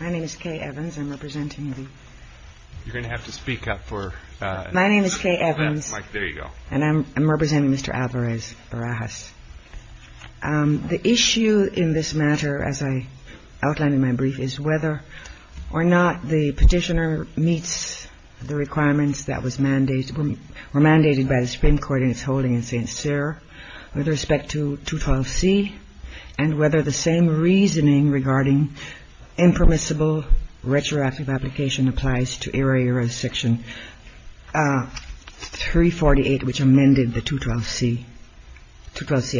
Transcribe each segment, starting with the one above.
My name is Kay Evans and I am representing Mr. Alvarez-Barajas. The issue in this matter as I outlined in my brief is whether or not the petitioner meets the requirements that were mandated by the Supreme Court in its holding in St. Cyr with respect to 212c and whether the same reasoning regarding impermissible retroactive application applies to era-era section 348 which amended the 212c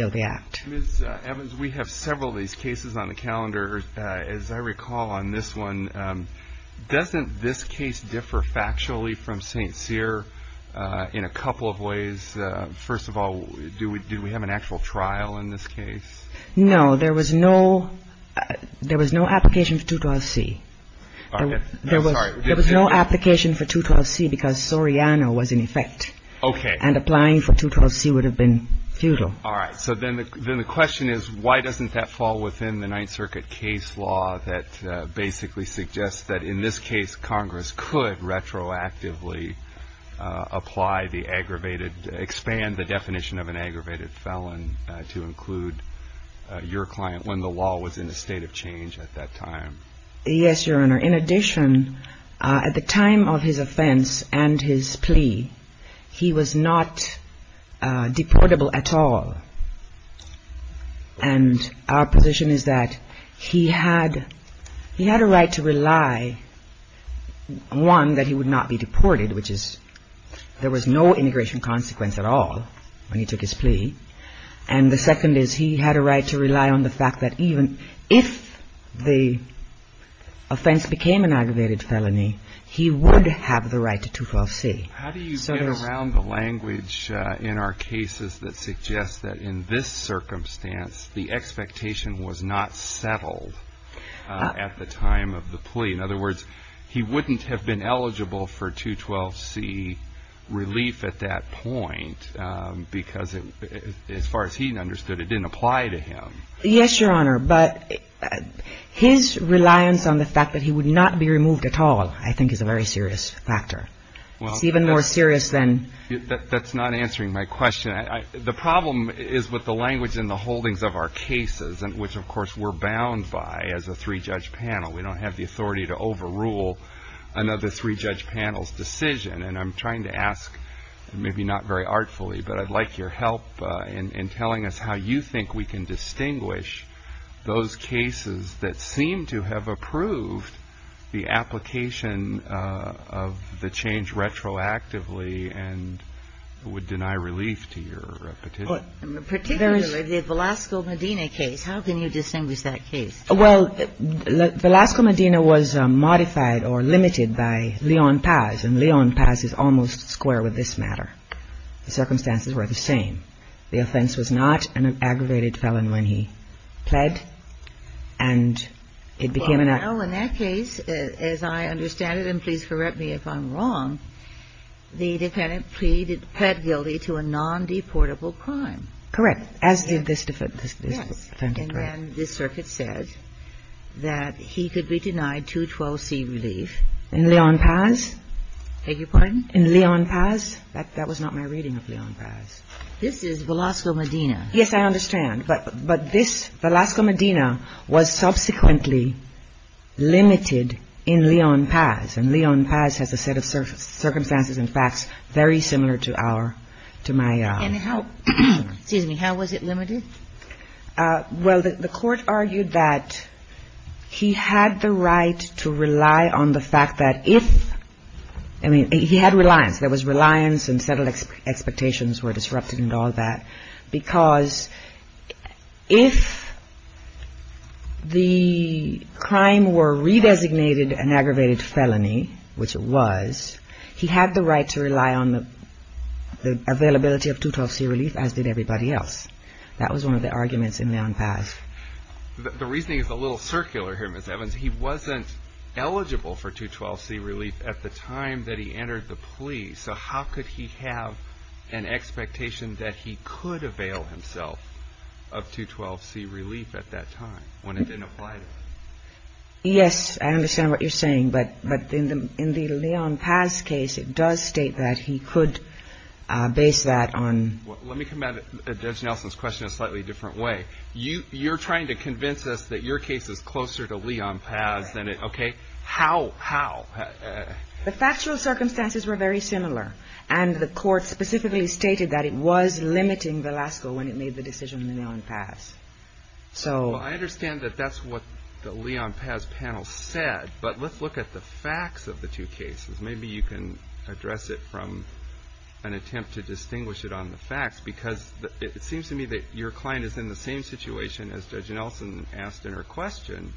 of the Act. Mr. Evans we have several of these cases on the calendar. As I recall on this one, doesn't this case differ factually from St. Cyr in a couple of ways? First of all, do we have an actual trial in this case? No, there was no application for 212c. There was no application for 212c because Soriano was in effect and applying for 212c would have been futile. All right, so then the question is why doesn't that fall within the Ninth Circuit case law that basically suggests that in this case Congress could retroactively apply the aggravated felon to include your client when the law was in a state of change at that time? Yes, Your Honor. In addition, at the time of his offense and his plea, he was not deportable at all. And our position is that he had a right to rely, one, that he would not be deported which is there was no integration consequence at all when he took his plea. And the second is he had a right to rely on the fact that even if the offense became an aggravated felony, he would have the right to 212c. How do you get around the language in our cases that suggests that in this circumstance the expectation was not settled at the time of the plea? In other words, he wouldn't have been eligible for 212c relief at that point because as far as he understood it didn't apply to him. Yes, Your Honor, but his reliance on the fact that he would not be removed at all I think is a very serious factor. It's even more serious than That's not answering my question. The problem is with the language in the holdings of our cases, which of course we're bound by as a three-judge panel. We don't have the authority to overrule another three-judge panel's decision. And I'm trying to ask, maybe not very artfully, but I'd like your help in telling us how you think we can distinguish those cases that seem to have approved the application of the change retroactively and would deny relief to your petition. Particularly the Velasco Medina case. How can you distinguish that case? Well, Velasco Medina was modified or limited by Leon Paz, and Leon Paz is almost square with this matter. The circumstances were the same. The offense was not an aggravated felon when he pled, and it became an act. Well, in that case, as I understand it, and please correct me if I'm wrong, the defendant pleaded, pled guilty to a non-deportable crime. Correct. As did this defendant. Yes. And then this circuit said that he could be denied 212C relief. In Leon Paz? Beg your pardon? In Leon Paz? That was not my reading of Leon Paz. This is Velasco Medina. Yes, I understand. But this Velasco Medina was subsequently limited in Leon Paz, and Leon Paz has a set of circumstances and facts very similar to our, to my own. And how – excuse me. How was it limited? Well, the Court argued that he had the right to rely on the fact that if – I mean, he had reliance. There was reliance and settled expectations were disrupted and all that, because if the crime were re-designated an aggravated felony, which it was, he had the right to rely on the availability of 212C relief, as did everybody else. That was one of the arguments in Leon Paz. The reasoning is a little circular here, Ms. Evans. He wasn't eligible for 212C relief at the time that he entered the plea, so how could he have an expectation that he could avail himself of 212C relief at that time when it didn't apply to him? Yes, I understand what you're saying, but in the Leon Paz case, it does state that he could base that on – Let me come back to Judge Nelson's question in a slightly different way. You're trying to convince us that your case is closer to Leon Paz than it – okay. How? How? The factual circumstances were very similar, and the Court specifically stated that it was limiting Velasco when it made the decision in Leon Paz. So – Well, I understand that that's what the Leon Paz panel said, but let's look at the facts of the two cases. Maybe you can address it from an attempt to distinguish it on the facts, because it seems to me that your client is in the same situation as Judge Nelson asked in her question,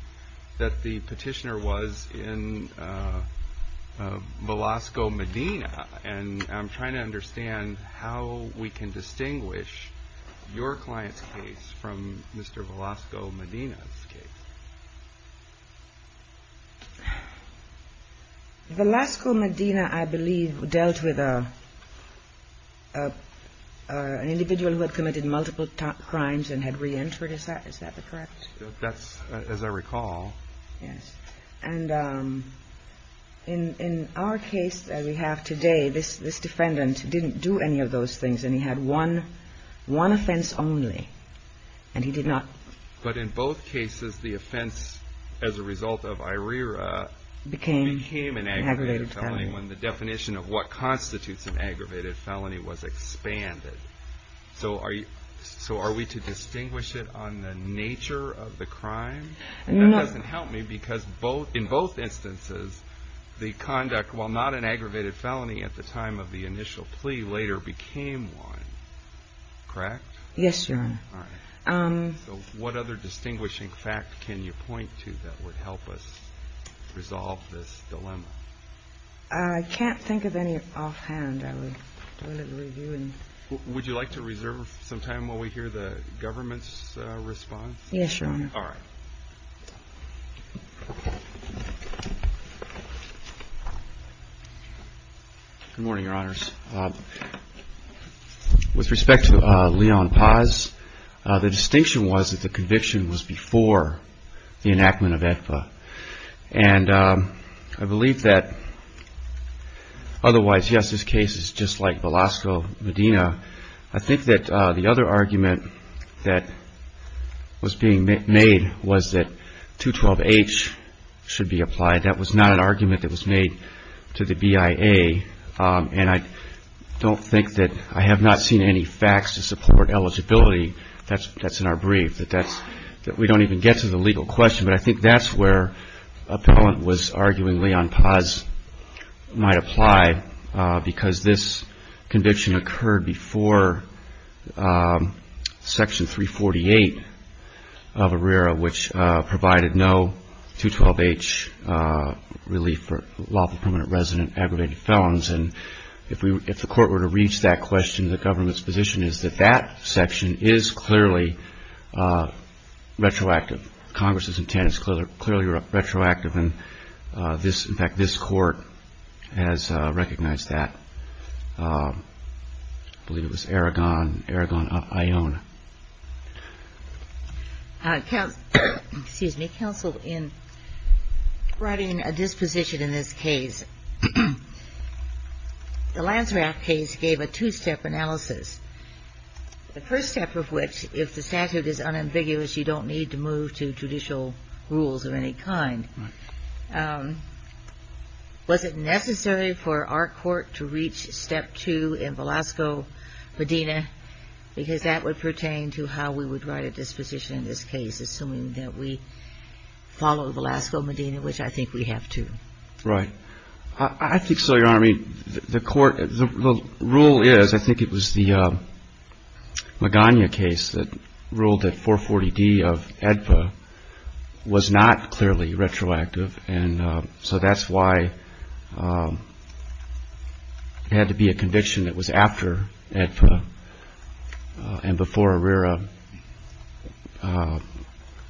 that the petitioner was in Velasco, Medina. And I'm trying to understand how we can distinguish your client's case from Mr. Velasco, Medina's case. Velasco, Medina, I believe, dealt with an individual who had committed multiple crimes and had reentered. Is that – is that correct? That's – as I recall. Yes. And in our case that we have today, this defendant didn't do any of those things, and he had one – one offense only, and he did not – But in both cases, the offense as a result of IRERA became an aggravated felony when the definition of what constitutes an aggravated felony was expanded. So are you – so are we to distinguish it on the nature of the crime? No. That doesn't help me, because both – in both instances, the conduct, while not an aggravated felony at the time of the initial plea, later became one. Correct? Yes, Your Honor. All right. So what other distinguishing fact can you point to that would help us resolve this dilemma? I can't think of any offhand. I would want to review and – Would you like to reserve some time while we hear the government's response? Yes, Your Honor. All right. Good morning, Your Honors. With respect to Leon Paz, the distinction was that the conviction was before the enactment of AEPA. And I believe that otherwise, yes, this case is just like Velasco Medina. I think that the other argument that was being made was that 212H should be applied. That was not an argument that was made to the BIA. And I don't think that – I have not seen any facts to support eligibility. That's in our brief, that we don't even get to the legal question. But I think that's where appellant was arguing Leon Paz might apply, because this conviction occurred before Section 348 of ARERA, which provided no 212H relief for lawful permanent resident aggravated felons. And if the Court were to reach that question, the government's position is that that section is clearly retroactive. Congress's intent is clearly retroactive. And in fact, this Court has recognized that. I believe it was Aragon, Aragon-Iona. Excuse me. Counsel, in writing a disposition in this case, the Lanser Act case gave a two-step analysis, the first step of which, if the statute is unambiguous, you don't need to move to judicial rules of any kind. Was it necessary for our Court to reach step two in Velasco Medina? Because that would pertain to how we would write a disposition in this case, assuming that we follow Velasco Medina, which I think we have to. Right. I think so, Your Honor. I mean, the Court – the rule is – I think it was the Magana case that ruled that 440D of AEDPA was not clearly retroactive. And so that's why it had to be a conviction that was after AEDPA and before ARERA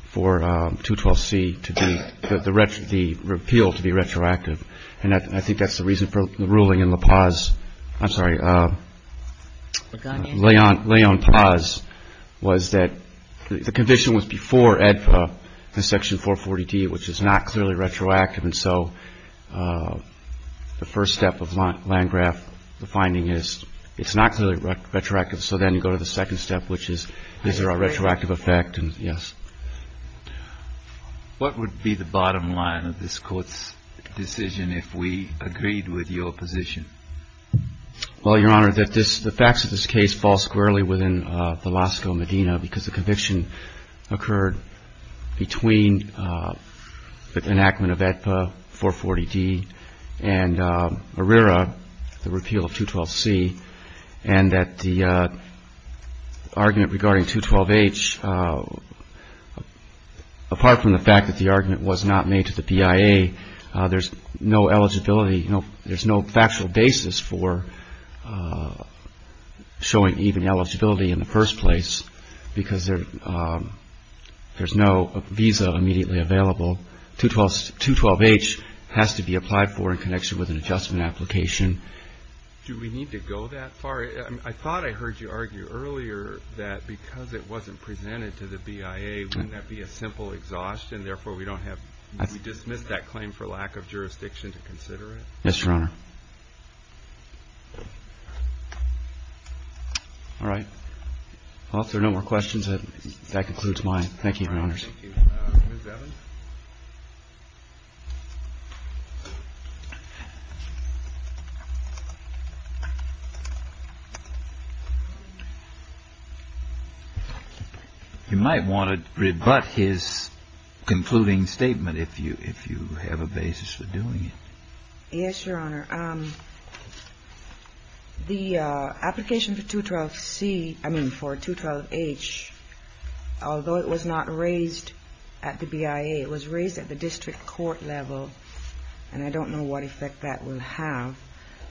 for 212C to be – the repeal to be retroactive. And I think that's the reason for the ruling in LaPaz – I'm sorry, Leon-Paz – was that the conviction was before AEDPA in Section 440D, which is not clearly retroactive. And so the first step of Landgraf, the finding is it's not clearly retroactive. So then you go to the second step, which is, is there a retroactive effect? And, yes. What would be the bottom line of this Court's decision if we agreed with your position? Well, Your Honor, the facts of this case fall squarely within Velasco Medina because the argument of AEDPA, 440D, and ARERA, the repeal of 212C, and that the argument regarding 212H, apart from the fact that the argument was not made to the PIA, there's no eligibility, there's no factual basis for showing even eligibility in the first place because there's no visa immediately available. 212H has to be applied for in connection with an adjustment application. Do we need to go that far? I thought I heard you argue earlier that because it wasn't presented to the PIA, wouldn't that be a simple exhaustion? Therefore, we don't have to dismiss that claim for lack of jurisdiction to consider it? Yes, Your Honor. All right. Well, if there are no more questions, that concludes my presentation. Thank you, Your Honors. You might want to rebut his concluding statement if you have a basis for doing it. Yes, Your Honor. The application for 212C, I mean, for 212H, although it was not raised at the PIA, it was raised at the district court level, and I don't know what effect that will have.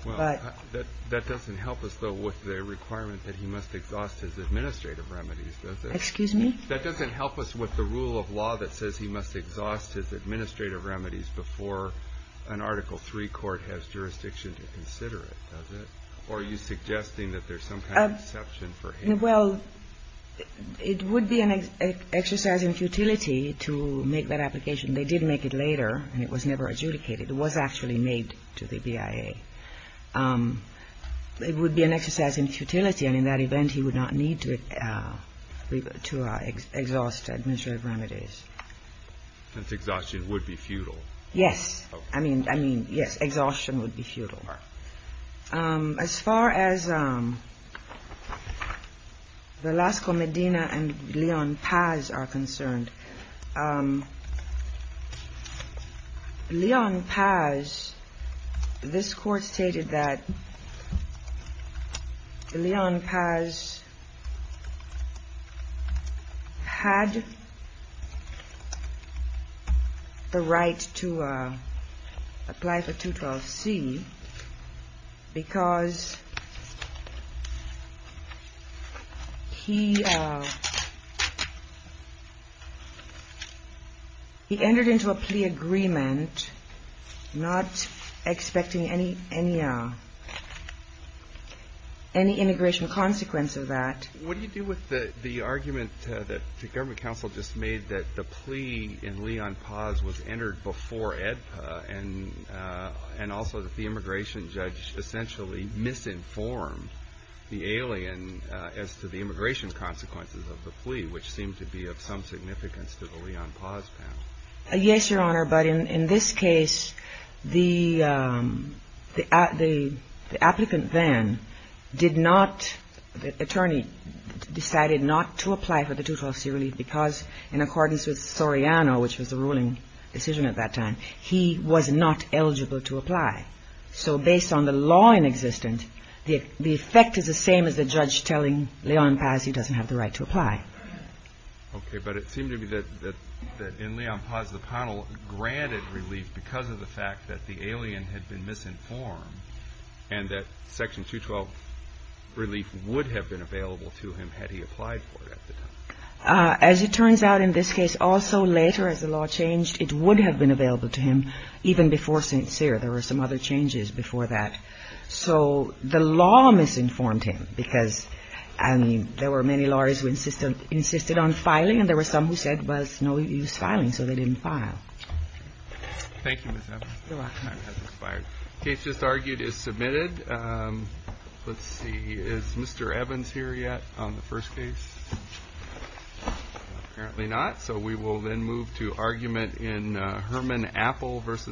Well, that doesn't help us, though, with the requirement that he must exhaust his administrative remedies, does it? Excuse me? That doesn't help us with the rule of law that says he must exhaust his administrative remedies before an Article III court has jurisdiction to consider it, does it? Or are you suggesting that there's some kind of exception for him? Well, it would be an exercise in futility to make that application. They did make it later, and it was never adjudicated. It was actually made to the PIA. It would be an exercise in futility, and in that event, he would not need to exhaust administrative remedies. Since exhaustion would be futile. Yes. I mean, yes, exhaustion would be futile. As far as Velasco Medina and Leon Paz are concerned, Leon Paz, this court stated that Leon Paz had the right to apply for 212C because he entered into a plea agreement not expecting any immigration consequence of that. What do you do with the argument that the government counsel just made that the plea in Leon Paz was entered before AEDPA and also that the immigration judge essentially misinformed the alien as to the immigration consequences of the plea, which seemed to be of some significance to the Leon Paz panel? Yes, Your Honor. But in this case, the applicant then did not, the attorney decided not to apply for the 212C relief because in accordance with Soriano, which was the ruling decision at that time, he was not eligible to apply. So based on the law in existence, the effect is the same as the judge telling Okay. But it seemed to me that in Leon Paz, the panel granted relief because of the fact that the alien had been misinformed and that Section 212 relief would have been available to him had he applied for it at the time. As it turns out in this case, also later as the law changed, it would have been available to him even before St. Cyr. There were some other changes before that. So the law misinformed him because there were many lawyers who insisted on filing and there were some who said, well, it's no use filing. So they didn't file. Thank you, Ms. Evans. Your Honor. Case just argued is submitted. Let's see. Is Mr. Evans here yet on the first case? Apparently not. So we will then move to argument in Herman Apple versus